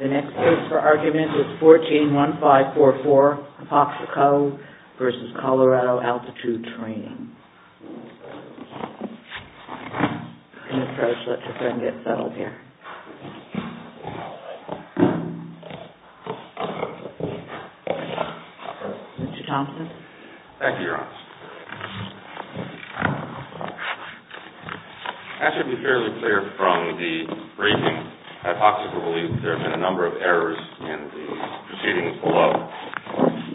The next case for argument is 141544, Apoxico v. Colorado Altitude Traing. I should be fairly clear from the briefing that Apoxico believes there have been a number of errors in the proceedings below.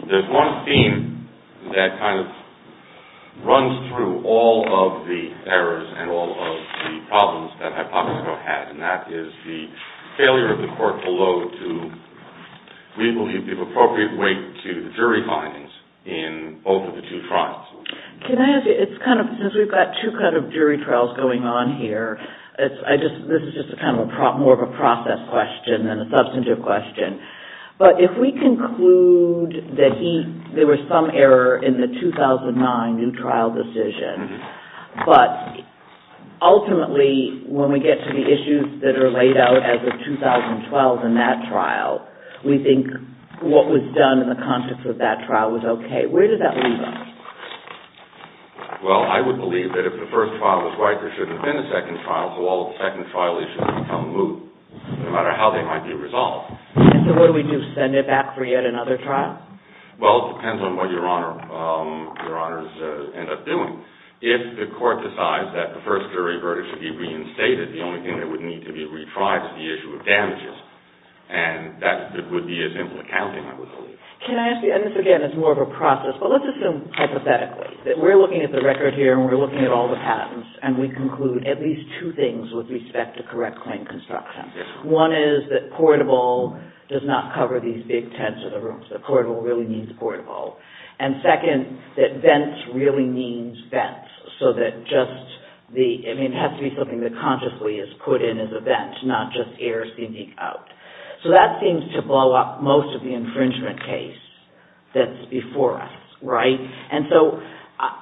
There's one theme that kind of runs through all of the errors and all of the problems that Apoxico had, and that is the failure of the court below to, we believe, give appropriate weight to the jury findings in both of the two trials. Since we've got two kind of jury trials going on here, this is just kind of more of a process question than a substantive question. But if we conclude that there was some error in the 2009 new trial decision, but ultimately when we get to the issues that are laid out as of 2012 in that trial, we think what was done in the context of that trial was okay. Where does that leave us? Well, I would believe that if the first trial was right, there shouldn't have been a second trial, so all of the second trial issues become moot, no matter how they might be resolved. And so what do we do? Send it back for yet another trial? Well, it depends on what Your Honor's end up doing. If the court decides that the first jury verdict should be reinstated, the only thing that would need to be retried is the issue of damages, and that would be as simple as counting, I would believe. Can I ask you, and this again is more of a process, but let's assume hypothetically that we're looking at the record here and we're looking at all the patents, and we conclude at least two things with respect to correct claim construction. One is that portable does not cover these big tents or the rooms, that portable really means portable. And second, that vents really means vents, so that just the, I mean, it has to be something that consciously is put in as a vent, not just air seeping out. So that seems to blow up most of the infringement case that's before us, right? And so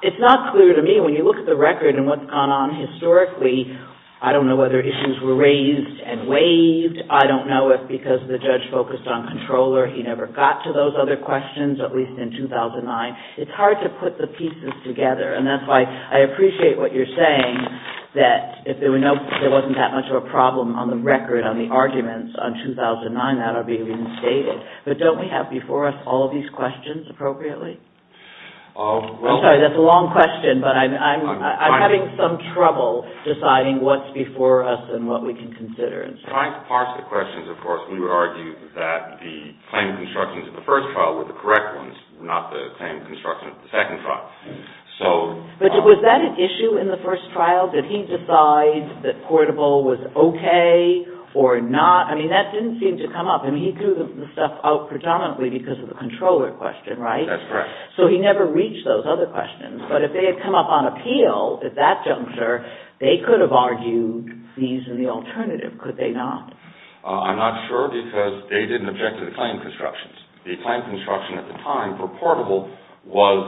it's not clear to me, when you look at the record and what's gone on historically, I don't know whether issues were raised and waived. I don't know if because the judge focused on controller he never got to those other questions, at least in 2009. It's hard to put the pieces together, and that's why I appreciate what you're saying, that if there wasn't that much of a problem on the record, on the arguments on 2009, that would be reinstated. But don't we have before us all of these questions appropriately? I'm sorry, that's a long question, but I'm having some trouble deciding what's before us and what we can consider. Trying to parse the questions, of course, we would argue that the claim constructions of the first trial were the correct ones, not the claim constructions of the second trial. But was that an issue in the first trial? Did he decide that portable was okay or not? I mean, that didn't seem to come up. I mean, he threw the stuff out predominantly because of the controller question, right? That's correct. So he never reached those other questions. But if they had come up on appeal at that juncture, they could have argued these are the alternative, could they not? I'm not sure because they didn't object to the claim constructions. The claim construction at the time for portable was,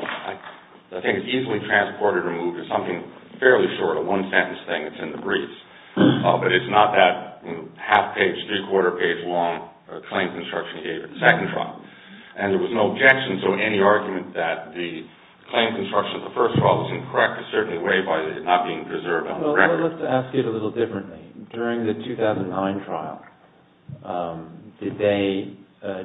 I think, easily transported or moved to something fairly short, a one-sentence thing that's in the briefs. But it's not that half-page, three-quarter-page long claim construction he gave in the second trial. And there was no objection to any argument that the claim construction of the first trial was incorrect in a certain way by it not being preserved on the record. Well, let's ask it a little differently. During the 2009 trial, did they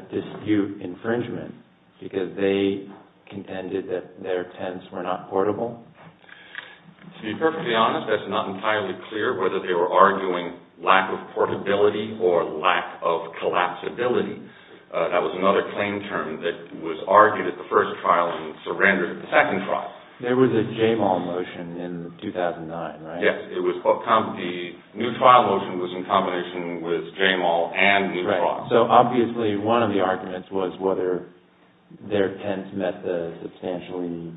dispute infringement because they contended that their tents were not portable? To be perfectly honest, that's not entirely clear whether they were arguing lack of portability or lack of collapsibility. That was another claim term that was argued at the first trial and surrendered at the second trial. There was a J-Mall motion in 2009, right? Yes. The new trial motion was in combination with J-Mall and new trial. Right. So, obviously, one of the arguments was whether their tents met the substantially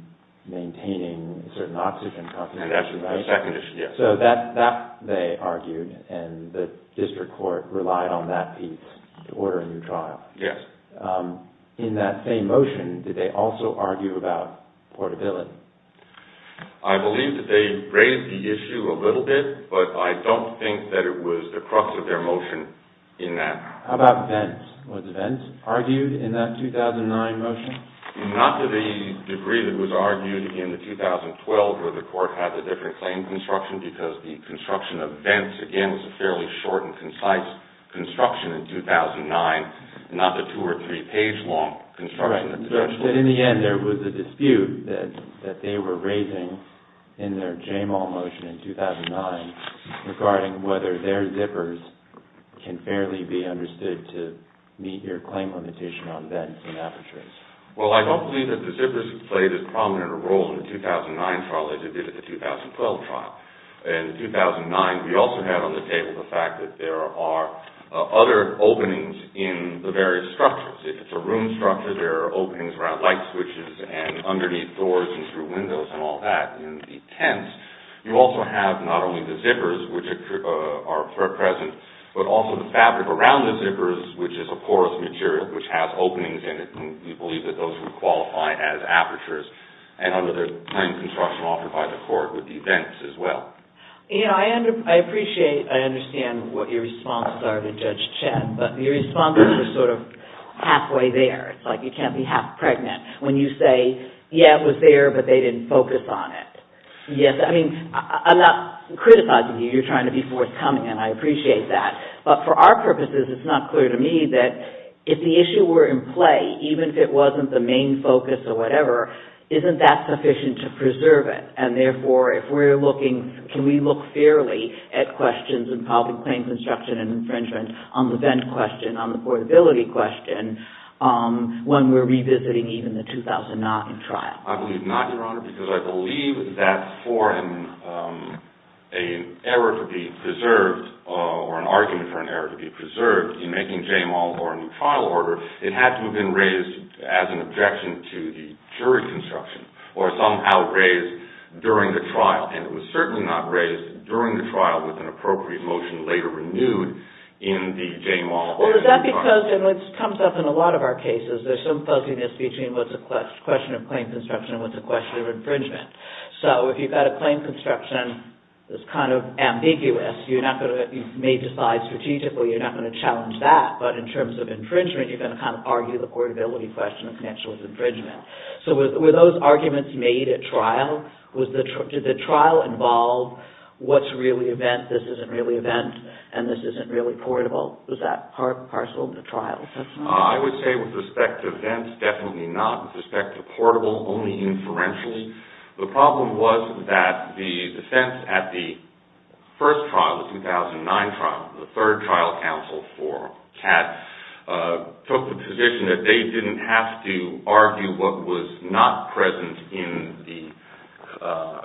maintaining certain oxygen concentration, right? And that's the second issue, yes. So that they argued, and the district court relied on that piece to order a new trial. Yes. In that same motion, did they also argue about portability? I believe that they raised the issue a little bit, but I don't think that it was the crux of their motion in that. How about vents? Was vents argued in that 2009 motion? Not to the degree that was argued in the 2012 where the court had the different claim construction, because the construction of vents, again, was a fairly short and concise construction in 2009. Not the two or three page long construction. In the end, there was a dispute that they were raising in their J-Mall motion in 2009 regarding whether their zippers can fairly be understood to meet your claim limitation on vents and apertures. Well, I don't believe that the zippers played a prominent role in the 2009 trial as they did in the 2012 trial. In 2009, we also have on the table the fact that there are other openings in the various structures. If it's a room structure, there are openings around light switches and underneath doors and through windows and all that. In the tents, you also have not only the zippers, which are present, but also the fabric around the zippers, which is a porous material which has openings in it. We believe that those would qualify as apertures. Under the claim construction offered by the court would be vents as well. I appreciate and understand what your responses are to Judge Chet, but your responses are sort of halfway there. It's like you can't be half pregnant when you say, yeah, it was there, but they didn't focus on it. Yes, I mean, I'm not criticizing you. You're trying to be forthcoming, and I appreciate that. But for our purposes, it's not clear to me that if the issue were in play, even if it wasn't the main focus or whatever, isn't that sufficient to preserve it? And therefore, if we're looking, can we look fairly at questions in public claims construction and infringement on the vent question, on the portability question, when we're revisiting even the 2009 trial? I believe not, Your Honor, because I believe that for an error to be preserved or an argument for an error to be preserved in making JMAL or a new trial order, it had to have been raised as an objection to the jury construction or somehow raised during the trial. And it was certainly not raised during the trial with an appropriate motion later renewed in the JMAL. Well, is that because, and this comes up in a lot of our cases, there's some fuzziness between what's a question of claim construction and what's a question of infringement. So if you've got a claim construction that's kind of ambiguous, you may decide strategically you're not going to challenge that, but in terms of infringement, you're going to kind of argue the portability question of financial infringement. So were those arguments made at trial? Did the trial involve what's really a vent, this isn't really a vent, and this isn't really portable? Was that parcel of the trial? I would say with respect to vents, definitely not. With respect to portable, only inferentially. The problem was that the defense at the first trial, the 2009 trial, the third trial counsel for Kat took the position that they didn't have to argue what was not present in the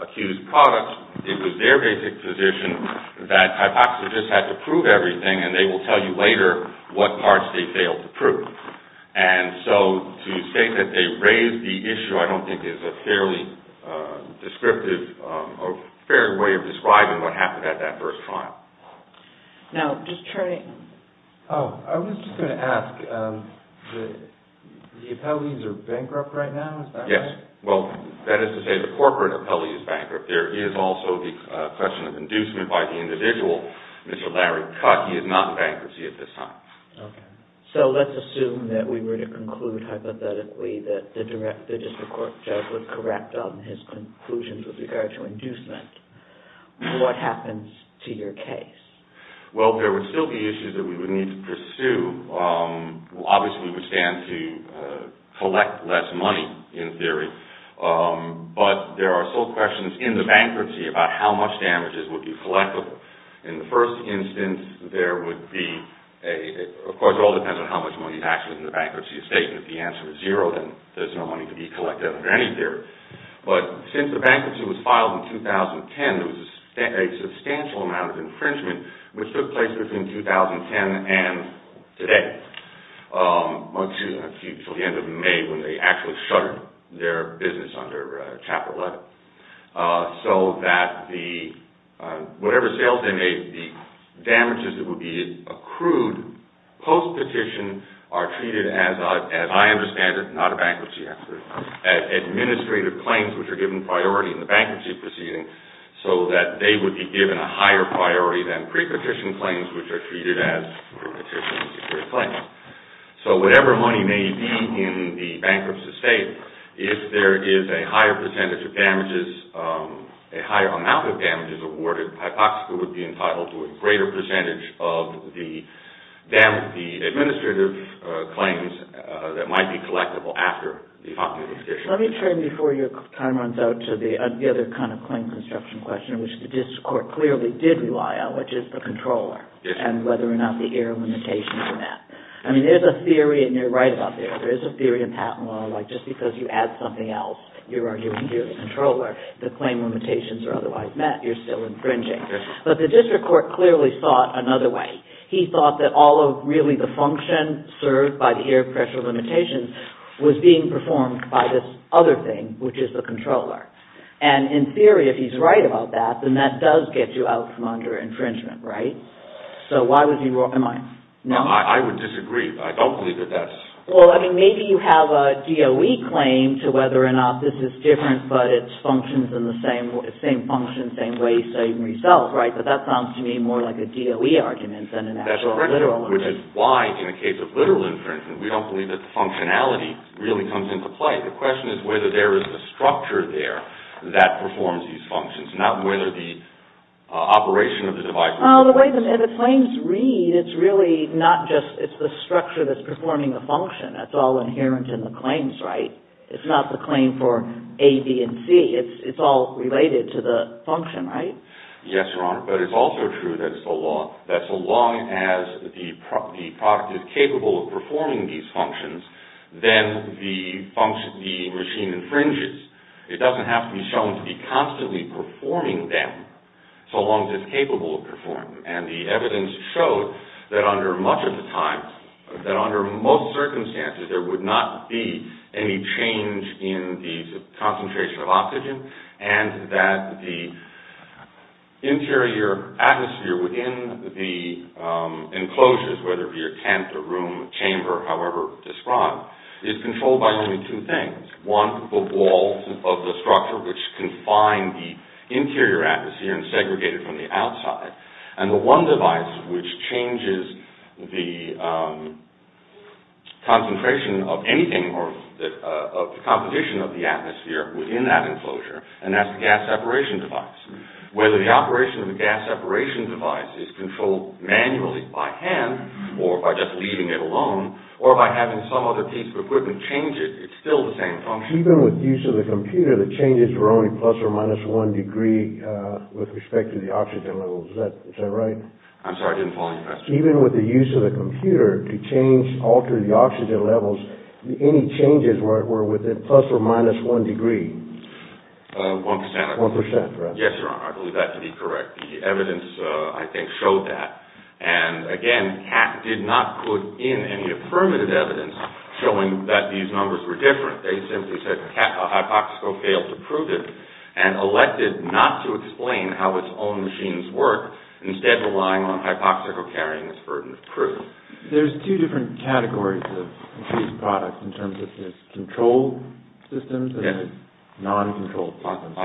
accused product. It was their basic position that hypoxicists had to prove everything, and they will tell you later what parts they failed to prove. And so to say that they raised the issue I don't think is a fairly descriptive or a fair way of describing what happened at that first trial. Now, just trying to... Oh, I was just going to ask, the appellees are bankrupt right now, is that right? Yes, well, that is to say the corporate appellee is bankrupt. There is also the question of inducement by the individual, Mr. Larry Cutt, he is not in bankruptcy at this time. Okay, so let's assume that we were to conclude hypothetically that the district court judge would correct on his conclusions with regard to inducement. What happens to your case? Well, there would still be issues that we would need to pursue. Obviously, we would stand to collect less money in theory, but there are still questions in the bankruptcy about how much damages would be collectible. In the first instance, there would be... Of course, it all depends on how much money is actually in the bankruptcy estate, and if the answer is zero, then there is no money to be collected under any theory. But since the bankruptcy was filed in 2010, there was a substantial amount of infringement which took place between 2010 and today, until the end of May when they actually shuttered their business under Chapter 11. So that whatever sales they made, the damages that would be accrued post-petition are treated as, as I understand it, not a bankruptcy after, as administrative claims which are given priority in the bankruptcy proceeding, so that they would be given a higher priority than pre-petition claims which are treated as pre-petition claims. So whatever money may be in the bankruptcy estate, if there is a higher percentage of damages, a higher amount of damages awarded, hypoxia would be entitled to a greater percentage of the administrative claims that might be collectible after the following petition. Let me turn, before your time runs out, to the other kind of claim construction question, which the district court clearly did rely on, which is the controller, and whether or not the error limitation is met. I mean, there's a theory, and you're right about that, there is a theory in patent law like just because you add something else, you're arguing here the controller, the claim limitations are otherwise met, you're still infringing. But the district court clearly thought another way. He thought that all of really the function served by the error pressure limitations was being performed by this other thing, which is the controller. And in theory, if he's right about that, then that does get you out from under infringement, right? So why was he wrong? No, I would disagree. I don't believe that that's... Well, I mean, maybe you have a DOE claim to whether or not this is different, but it's functions in the same function, same way, same result, right? But that sounds to me more like a DOE argument than an actual literal one. Which is why, in the case of literal infringement, we don't believe that the functionality really comes into play. The question is whether there is a structure there that performs these functions, not whether the operation of the device... Well, the way the claims read, it's really not just... It's the structure that's performing the function. That's all inherent in the claims, right? It's not the claim for A, B, and C. It's all related to the function, right? Yes, Your Honor, but it's also true that it's the law. That so long as the product is capable of performing these functions, then the regime infringes. It doesn't have to be shown to be constantly performing them, so long as it's capable of performing them. And the evidence showed that under most circumstances, there would not be any change in the concentration of oxygen and that the interior atmosphere within the enclosures, whether it be a tent, a room, a chamber, however described, is controlled by only two things. One, the walls of the structure which confine the interior atmosphere and segregate it from the outside. And the one device which changes the concentration of anything or the composition of the atmosphere within that enclosure, and that's the gas separation device. Whether the operation of the gas separation device is controlled manually by hand or by just leaving it alone or by having some other piece of equipment change it, it's still the same function. Even with the use of the computer, the changes were only plus or minus one degree with respect to the oxygen levels. Is that right? I'm sorry, I didn't follow your question. Even with the use of the computer to change, alter the oxygen levels, any changes were within plus or minus one degree. One percent. One percent, correct. Yes, Your Honor, I believe that to be correct. The evidence, I think, showed that. And again, CAC did not put in any affirmative evidence showing that these numbers were different. They simply said that Hypoxico failed to prove it and elected not to explain how its own machines work, instead relying on Hypoxico carrying this burden of proof. There's two different categories of increased products in terms of controlled systems and non-controlled systems.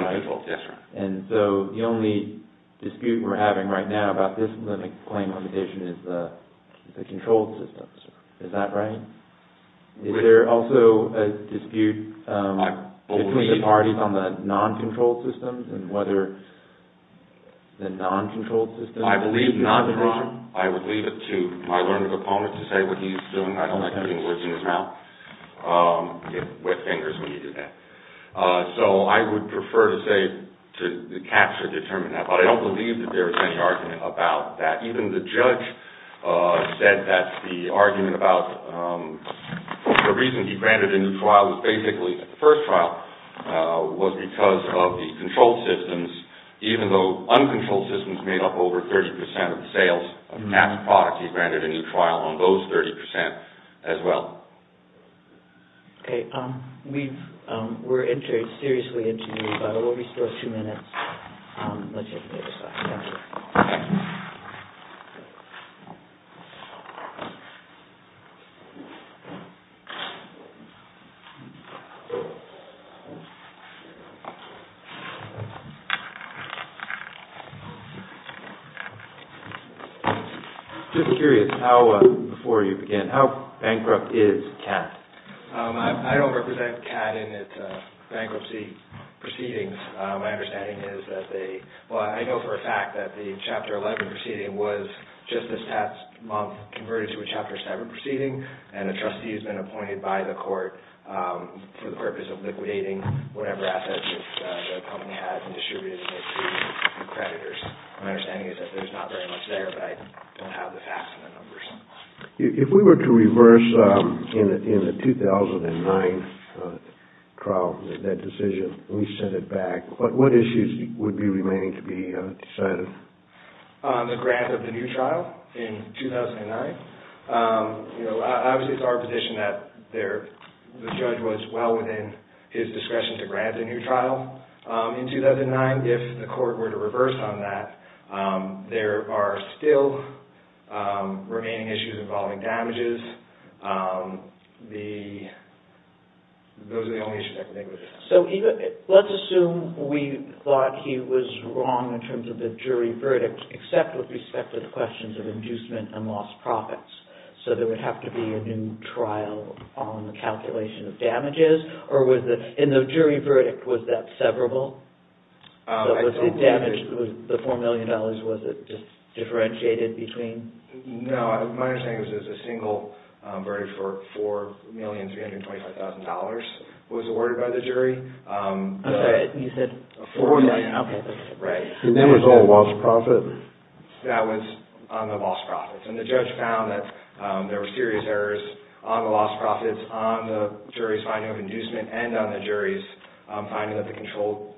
And so the only dispute we're having right now about this claim limitation is the controlled systems. Is that right? Is there also a dispute between the parties on the non-controlled systems and whether the non-controlled systems are the reason? I believe not, Your Honor. I would leave it to my learned opponent to say what he's doing. I don't like putting words in his mouth. You get wet fingers when you do that. So I would prefer to say the CACs have determined that, but I don't believe that there is any argument about that. In fact, even the judge said that the argument about the reason he granted a new trial was basically the first trial was because of the controlled systems. Even though uncontrolled systems made up over 30% of the sales of CAC's product, he granted a new trial on those 30% as well. Okay. We're seriously interviewing, but we'll restore two minutes. Let's take a minute or so. I'm just curious how, before you begin, how bankrupt is CAT? I don't represent CAT in its bankruptcy proceedings. My understanding is that they—well, I know for a fact that the Chapter 11 proceeding was just this past month converted to a Chapter 7 proceeding, and a trustee has been appointed by the court for the purpose of liquidating whatever assets the company has and distributing it to creditors. My understanding is that there's not very much there, but I don't have the facts and the numbers. If we were to reverse in the 2009 trial that decision, reset it back, what issues would be remaining to be decided? The grant of the new trial in 2009. Obviously, it's our position that the judge was well within his discretion to grant a new trial in 2009. If the court were to reverse on that, there are still remaining issues involving damages. Those are the only issues I can think of. Let's assume we thought he was wrong in terms of the jury verdict, except with respect to the questions of inducement and lost profits, so there would have to be a new trial on the calculation of damages. In the jury verdict, was that severable? The $4 million, was it just differentiated between... No, my understanding is that a single verdict for $4,325,000 was awarded by the jury. I'm sorry, you said... Right. And that was all lost profit? That was on the lost profits, and the judge found that there were serious errors on the lost profits, on the jury's finding of inducement, and on the jury's finding that the controlled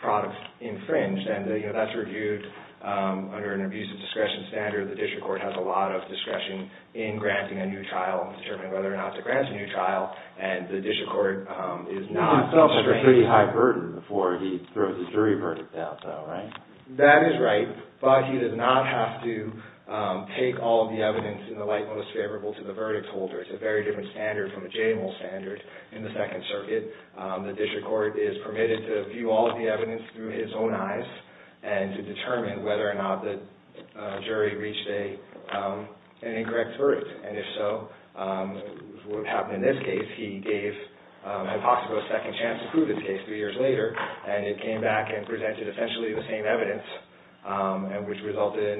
product infringed. That's reviewed under an abuse of discretion standard. The district court has a lot of discretion in granting a new trial, determining whether or not to grant a new trial, and the district court is not... That's a pretty high burden before he throws his jury verdict out, though, right? That is right, but he does not have to take all of the evidence in the light most favorable to the verdict holder. It's a very different standard from the JAMAL standard in the Second Circuit. The district court is permitted to view all of the evidence through his own eyes and to determine whether or not the jury reached an incorrect verdict, and if so, what happened in this case, he gave Hippoxico a second chance to prove his case three years later, and it came back and presented essentially the same evidence, which resulted in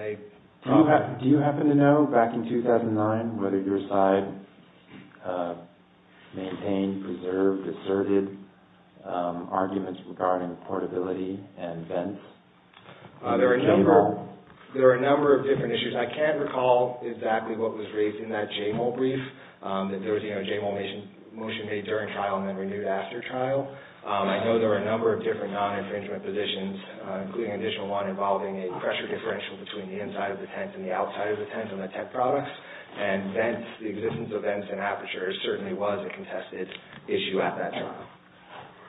a problem. Do you happen to know, back in 2009, whether your side maintained, preserved, asserted arguments regarding portability and vents? There are a number of different issues. I can't recall exactly what was raised in that JAMAL brief, that there was a JAMAL motion made during trial and then renewed after trial. I know there are a number of different non-infringement positions, including an additional one involving a pressure differential between the inside of the tent and the outside of the tent and the tent products, and the existence of vents and apertures certainly was a contested issue at that time.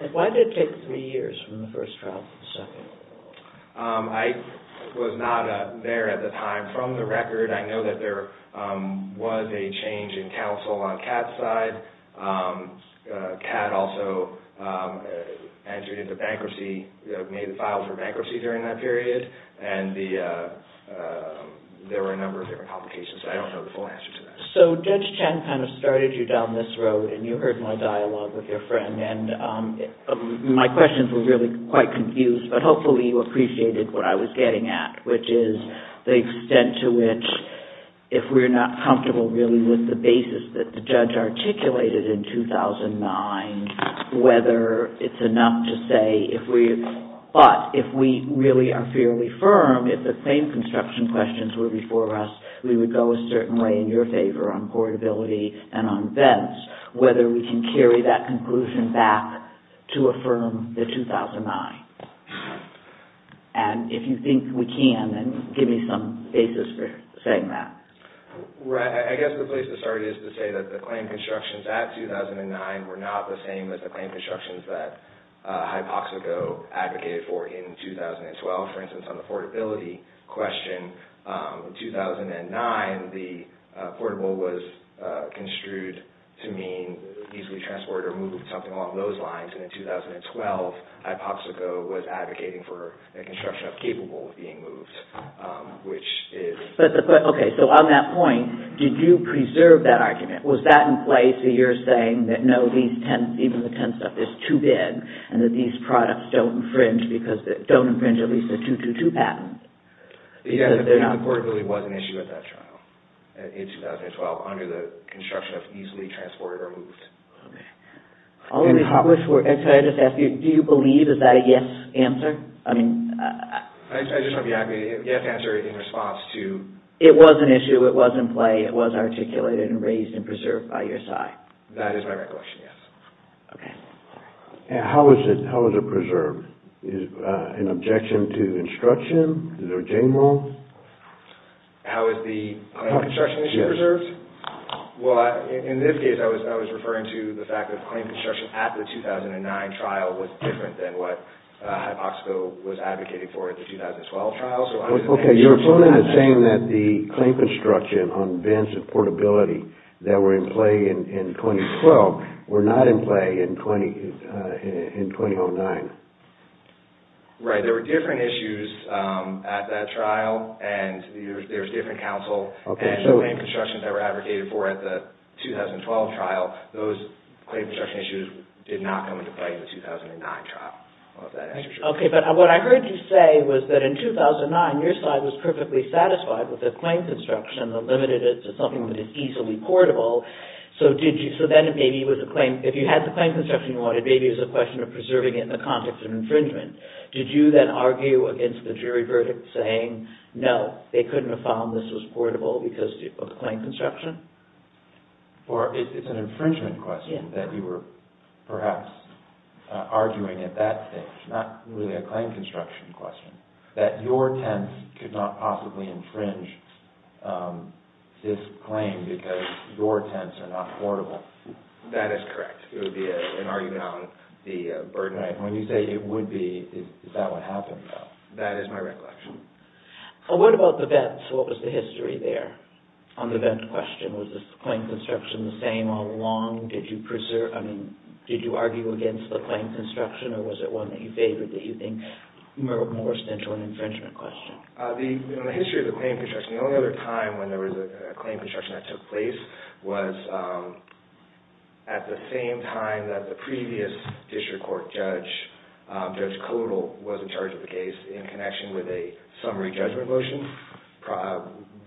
And why did it take three years from the first trial to the second? I was not there at the time. From the record, I know that there was a change in counsel on Cat's side. Cat also entered into bankruptcy, made a file for bankruptcy during that period, and there were a number of different complications. I don't know the full answer to that. So Judge Chen kind of started you down this road, and you heard my dialogue with your friend. My questions were really quite confused, but hopefully you appreciated what I was getting at, which is the extent to which, if we're not comfortable really with the basis that the judge articulated in 2009, whether it's enough to say if we really are fairly firm, if the claim construction questions were before us, we would go a certain way in your favor on portability and on vents, whether we can carry that conclusion back to affirm the 2009. And if you think we can, then give me some basis for saying that. I guess the place to start is to say that the claim constructions at 2009 were not the same as the claim constructions that Hypoxico advocated for in 2012. For instance, on the portability question, in 2009, the portable was construed to mean easily transported or moved, something along those lines. And in 2012, Hypoxico was advocating for the construction of capable being moved, which is... Okay, so on that point, did you preserve that argument? Was that in place that you're saying that no, even the tent stuff is too big, and that these products don't infringe at least the 2-2-2 patent? Yeah, the portability was an issue at that trial in 2012, under the construction of easily transported or moved. Okay. All of these questions were... Do you believe, is that a yes answer? I just want to be accurate. Yes answer in response to... It was an issue, it was in play, it was articulated and raised and preserved by your side. That is my recollection, yes. Okay. How is it preserved? Is it an objection to instruction? Is there a chain rule? How is the construction issue preserved? Well, in this case, I was referring to the fact that the claim construction at the 2009 trial was different than what Hypoxico was advocating for at the 2012 trial. Okay, your opponent is saying that the claim construction on events of portability that were in play in 2012 were not in play in 2009. Right, there were different issues at that trial, and there was different counsel, and the claim construction that were advocated for at the 2012 trial, those claim construction issues did not come into play in the 2009 trial. Okay, but what I heard you say was that in 2009, your side was perfectly satisfied with the claim construction and limited it to something that is easily portable. So then, if you had the claim construction you wanted, maybe it was a question of preserving it in the context of infringement. Did you then argue against the jury verdict saying, no, they couldn't have found this was portable because of the claim construction? It's an infringement question that you were perhaps arguing at that stage, not really a claim construction question, that your tents could not possibly infringe this claim because your tents are not portable. That is correct. It would be an argument on the burden. When you say it would be, is that what happened, though? That is my recollection. What about the vets? What was the history there on the vet question? Was the claim construction the same all along? Did you argue against the claim construction, or was it one that you favored that you think more stent to an infringement question? The history of the claim construction, the only other time when there was a claim construction that took place was at the same time that the previous district court judge, Judge Kodal, was in charge of the case in connection with a summary judgment motion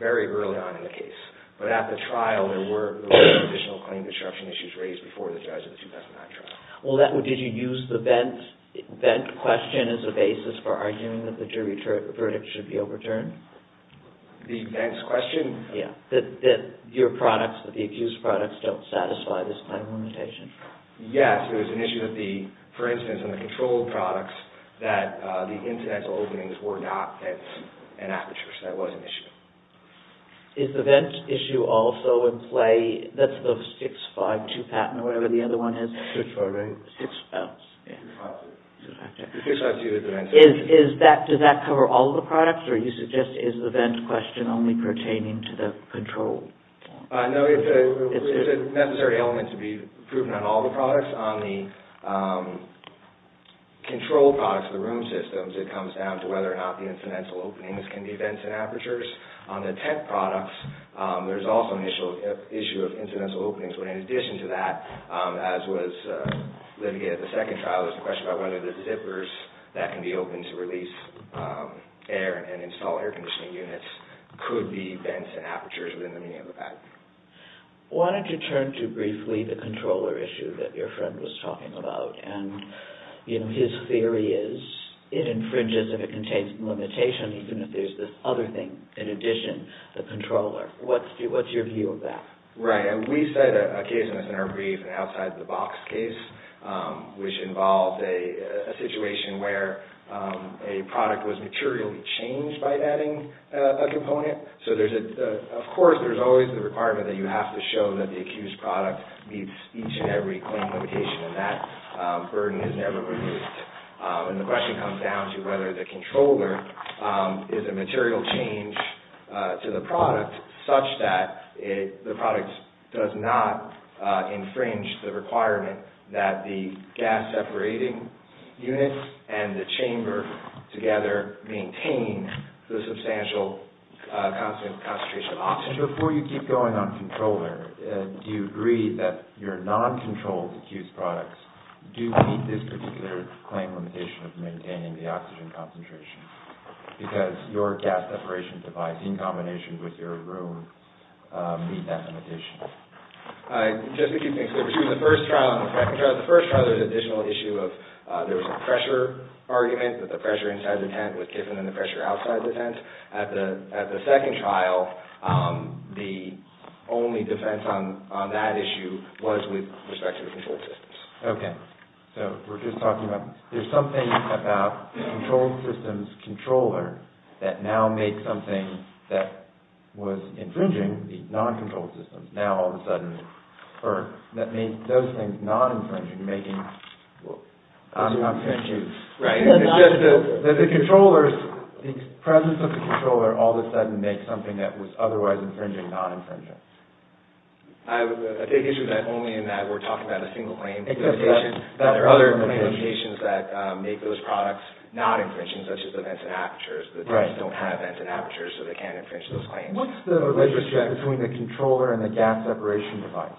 very early on in the case. But at the trial, there were additional claim construction issues raised before the judge at the 2009 trial. Did you use the vet question as a basis for arguing that the jury verdict should be overturned? The vet question? Yes, that your products, the accused products, don't satisfy this claim limitation. Yes, it was an issue that the, for instance, in the controlled products, that the incidental openings were not at an aperture. So that was an issue. Is the vent issue also in play? That's the 652 patent or whatever the other one is. Does that cover all of the products, or do you suggest is the vent question only pertaining to the control? No, it's a necessary element to be proven on all the products. On the control products, the room systems, it comes down to whether or not the incidental openings can be vents and apertures. On the tent products, there's also an issue of incidental openings. But in addition to that, as was litigated at the second trial, there's a question about whether the zippers that can be opened to release air and install air conditioning units could be vents and apertures within the medium of that. Why don't you turn to briefly the controller issue that your friend was talking about. And his theory is it infringes if it contains limitations, even if there's this other thing in addition, the controller. What's your view of that? Right, and we set a case in our brief, an outside-the-box case, which involved a situation where a product was materially changed by adding a component. So, of course, there's always the requirement that you have to show that the accused product meets each and every claim limitation, and that burden is never reduced. And the question comes down to whether the controller is a material change to the product such that the product does not infringe the requirement that the gas-separating unit and the chamber together maintain the substantial concentration of oxygen. Before you keep going on controller, do you agree that your non-controlled accused products do meet this particular claim limitation of maintaining the oxygen concentration? Because your gas-separation device, in combination with your room, meet that limitation. Just to keep things clear, the first trial and the second trial, the first trial there was an additional issue of there was a pressure argument, that the pressure inside the tent was different than the pressure outside the tent. At the second trial, the only defense on that issue was with respect to the controlled systems. Okay, so we're just talking about, there's something about the controlled systems controller that now makes something that was infringing the non-controlled systems, now all of a sudden, or that made those things non-infringing, making... It's just that the controllers, the presence of the controller all of a sudden makes something that was otherwise infringing non-infringing. I take issue only in that we're talking about a single claim. There are other limitations that make those products not infringing, such as the vents and apertures. The tents don't have vents and apertures, so they can't infringe those claims. What's the relationship between the controller and the gas-separation device?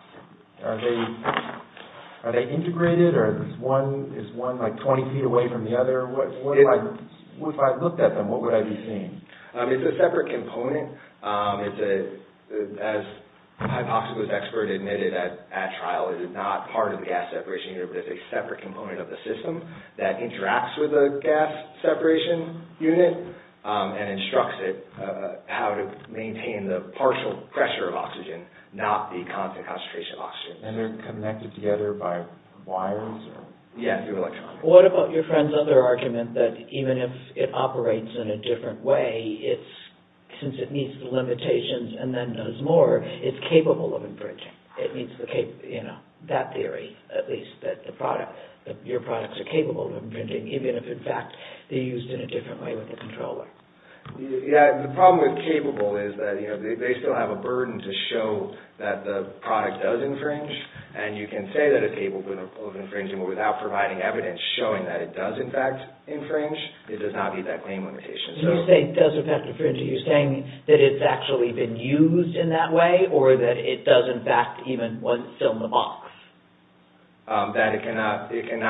Are they integrated, or is one like 20 feet away from the other? If I looked at them, what would I be seeing? It's a separate component. As a hypoxic was expertly admitted at trial, it is not part of the gas-separation unit, but it's a separate component of the system that interacts with the gas-separation unit and instructs it how to maintain the partial pressure of oxygen, not the constant concentration of oxygen. And they're connected together by wires? Yeah, through electronics. What about your friend's other argument that even if it operates in a different way, since it meets the limitations and then knows more, it's capable of infringing? That theory, at least, that your products are capable of infringing, even if, in fact, they're used in a different way with the controller. The problem with capable is that they still have a burden to show that the product does infringe, and you can say that it's capable of infringing without providing evidence showing that it does, in fact, infringe. It does not meet that claim limitation. When you say it does in fact infringe, are you saying that it's actually been used in that way or that it does, in fact, even when it's still in the box? That it cannot be used in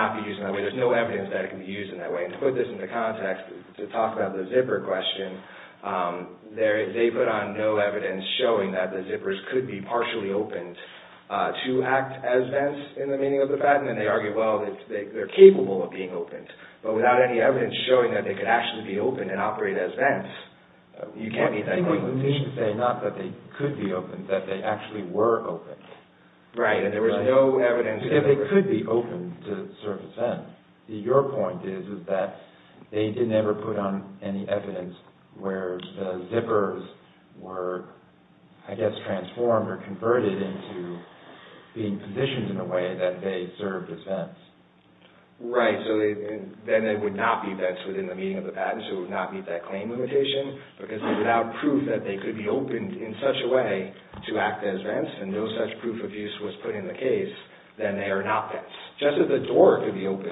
that way. There's no evidence that it can be used in that way. To put this into context, to talk about the zipper question, they put on no evidence showing that the zippers could be partially opened to act as vents in the meaning of the patent, and they argue, well, they're capable of being opened, but without any evidence showing that they could actually be opened and operate as vents. You can't meet that claim. What you mean to say is not that they could be opened, but that they actually were opened. Right, and there was no evidence... Because they could be opened to serve as vents. Your point is that they didn't ever put on any evidence where the zippers were, I guess, transformed or converted into being positioned in a way that they served as vents. Right, so then they would not be vents within the meaning of the patent, so it would not meet that claim limitation, because without proof that they could be opened in such a way to act as vents, and no such proof of use was put in the case, then they are not vents. Just as a door could be opened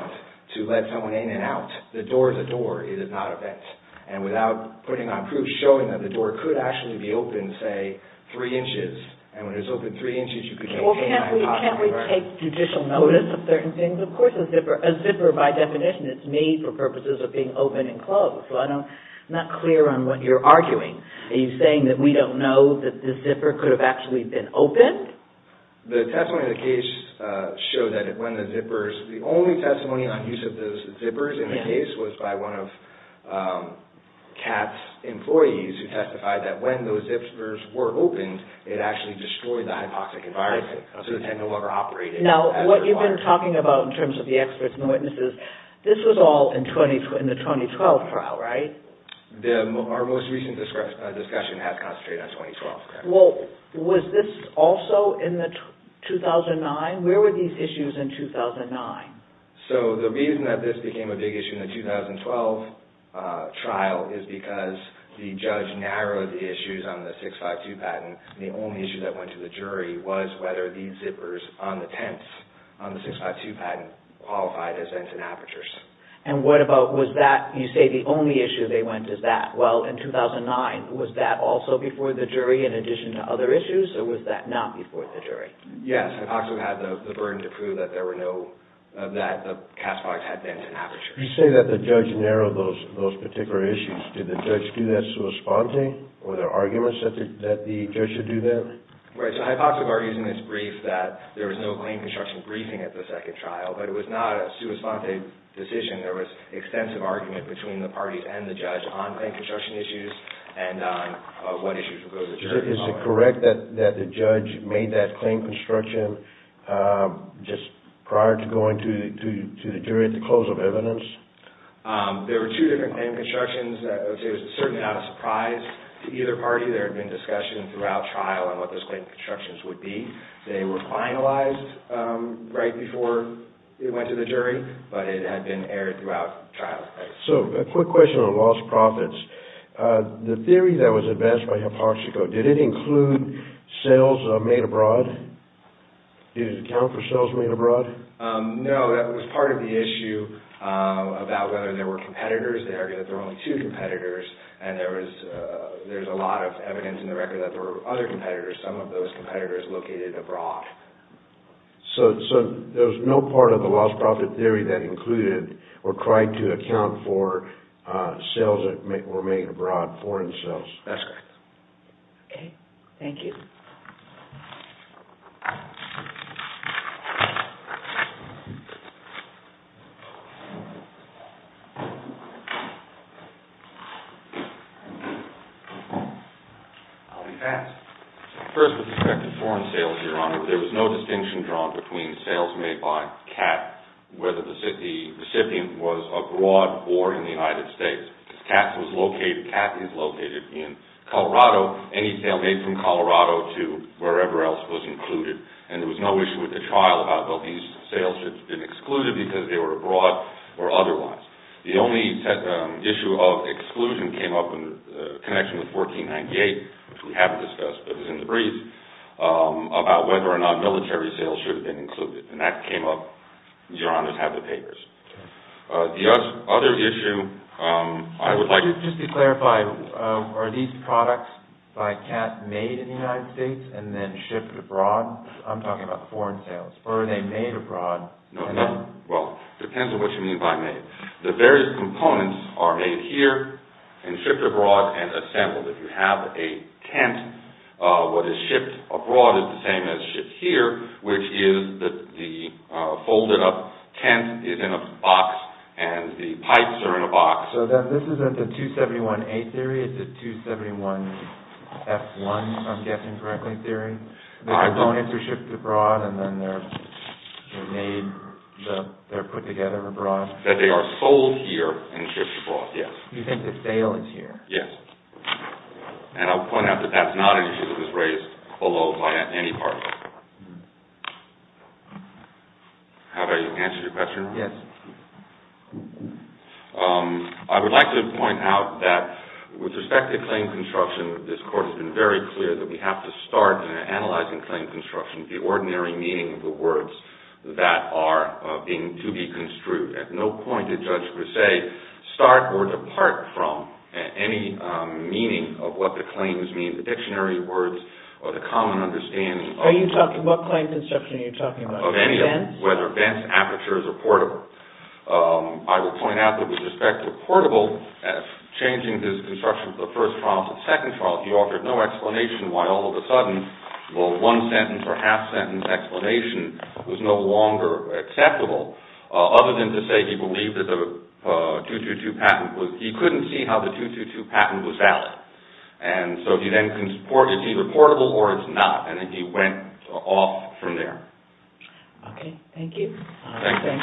to let someone in and out, the door is a door, it is not a vent. And without putting on proof showing that the door could actually be opened, say, three inches, and when it's opened three inches, you could... Well, can't we take judicial notice of certain things? Of course, a zipper, by definition, is made for purposes of being open and closed. I'm not clear on what you're arguing. Are you saying that we don't know that the zipper could have actually been opened? The testimony of the case showed that when the zippers... The only testimony on use of those zippers in the case was by one of CAT's employees who testified that when those zippers were opened, it actually destroyed the hypoxic environment, so it no longer operated. Now, what you've been talking about in terms of the experts and the witnesses, this was all in the 2012 trial, right? Our most recent discussion has concentrated on 2012. Well, was this also in 2009? Where were these issues in 2009? So, the reason that this became a big issue in the 2012 trial is because the judge narrowed the issues on the 652 patent, and the only issue that went to the jury was whether these zippers on the tents on the 652 patent qualified as vents and apertures. And what about... Was that... You say the only issue they went to is that. Well, in 2009, was that also before the jury in addition to other issues, or was that not before the jury? Yes. Hypoxic had the burden to prove that there were no... that the CAT's products had vents and apertures. You say that the judge narrowed those particular issues. Did the judge do that sua sponte? Were there arguments that the judge should do that? Right. So, hypoxic argues in its brief that there was no claim construction briefing at the second trial, but it was not a sua sponte decision. There was extensive argument between the parties and the judge on claim construction issues and on what issues would go to the jury. Is it correct that the judge made that claim construction just prior to going to the jury at the close of evidence? There were two different claim constructions. It was certainly not a surprise to either party. There had been discussion throughout trial on what those claim constructions would be. They were finalized right before it went to the jury, but it had been aired throughout trial. So, a quick question on lost profits. The theory that was advanced by hypoxico, did it include sales made abroad? Did it account for sales made abroad? No, that was part of the issue about whether there were competitors. They argued that there were only two competitors, and there's a lot of evidence in the record that there were other competitors, some of those competitors located abroad. So, there was no part of the lost profit theory that included or tried to account for sales that were made abroad, foreign sales. That's correct. Okay. Thank you. I'll be fast. First, with respect to foreign sales, Your Honor, there was no distinction drawn between sales made by CAT, whether the recipient was abroad or in the United States. CAT is located in Colorado. Any sale made from Colorado to wherever else was included, and there was no issue with the trial about whether these sales had been excluded because they were abroad or otherwise. The only issue of exclusion came up in connection with 1498, which we haven't discussed, but it was in the brief, about whether or not military sales should have been included. And that came up. Your Honors have the papers. The other issue I would like... Just to clarify, are these products by CAT made in the United States and then shipped abroad? I'm talking about foreign sales. Or are they made abroad? Well, it depends on what you mean by made. The various components are made here and shipped abroad and assembled. If you have a tent, what is shipped abroad is the same as shipped here, which is that the folded-up tent is in a box and the pipes are in a box. So this isn't the 271A theory, it's the 271F1, I'm guessing, correctly, theory? The components are shipped abroad and then they're made, they're put together abroad? That they are sold here and shipped abroad, yes. You think the sale is here? Yes. And I'll point out that that's not an issue that was raised below by any party. Have I answered your question? Yes. I would like to point out that with respect to claim construction, this Court has been very clear that we have to start analyzing claim construction, the ordinary meaning of the words that are to be construed. At no point did Judge Grisey start or depart from any meaning of what the claims mean, the dictionary words or the common understanding of... Are you talking about claim construction or are you talking about events? Of any of them, whether events, apertures, or portable. I would point out that with respect to portable, changing this construction from the first trial to the second trial, he offered no explanation why all of a sudden, well, one sentence or half-sentence explanation was no longer acceptable. Other than to say he believed that the 222 patent was... He couldn't see how the 222 patent was valid. And so he then... It's either portable or it's not. And then he went off from there. Okay. Thank you. Thank you. Thank you, counsel, the case is submitted.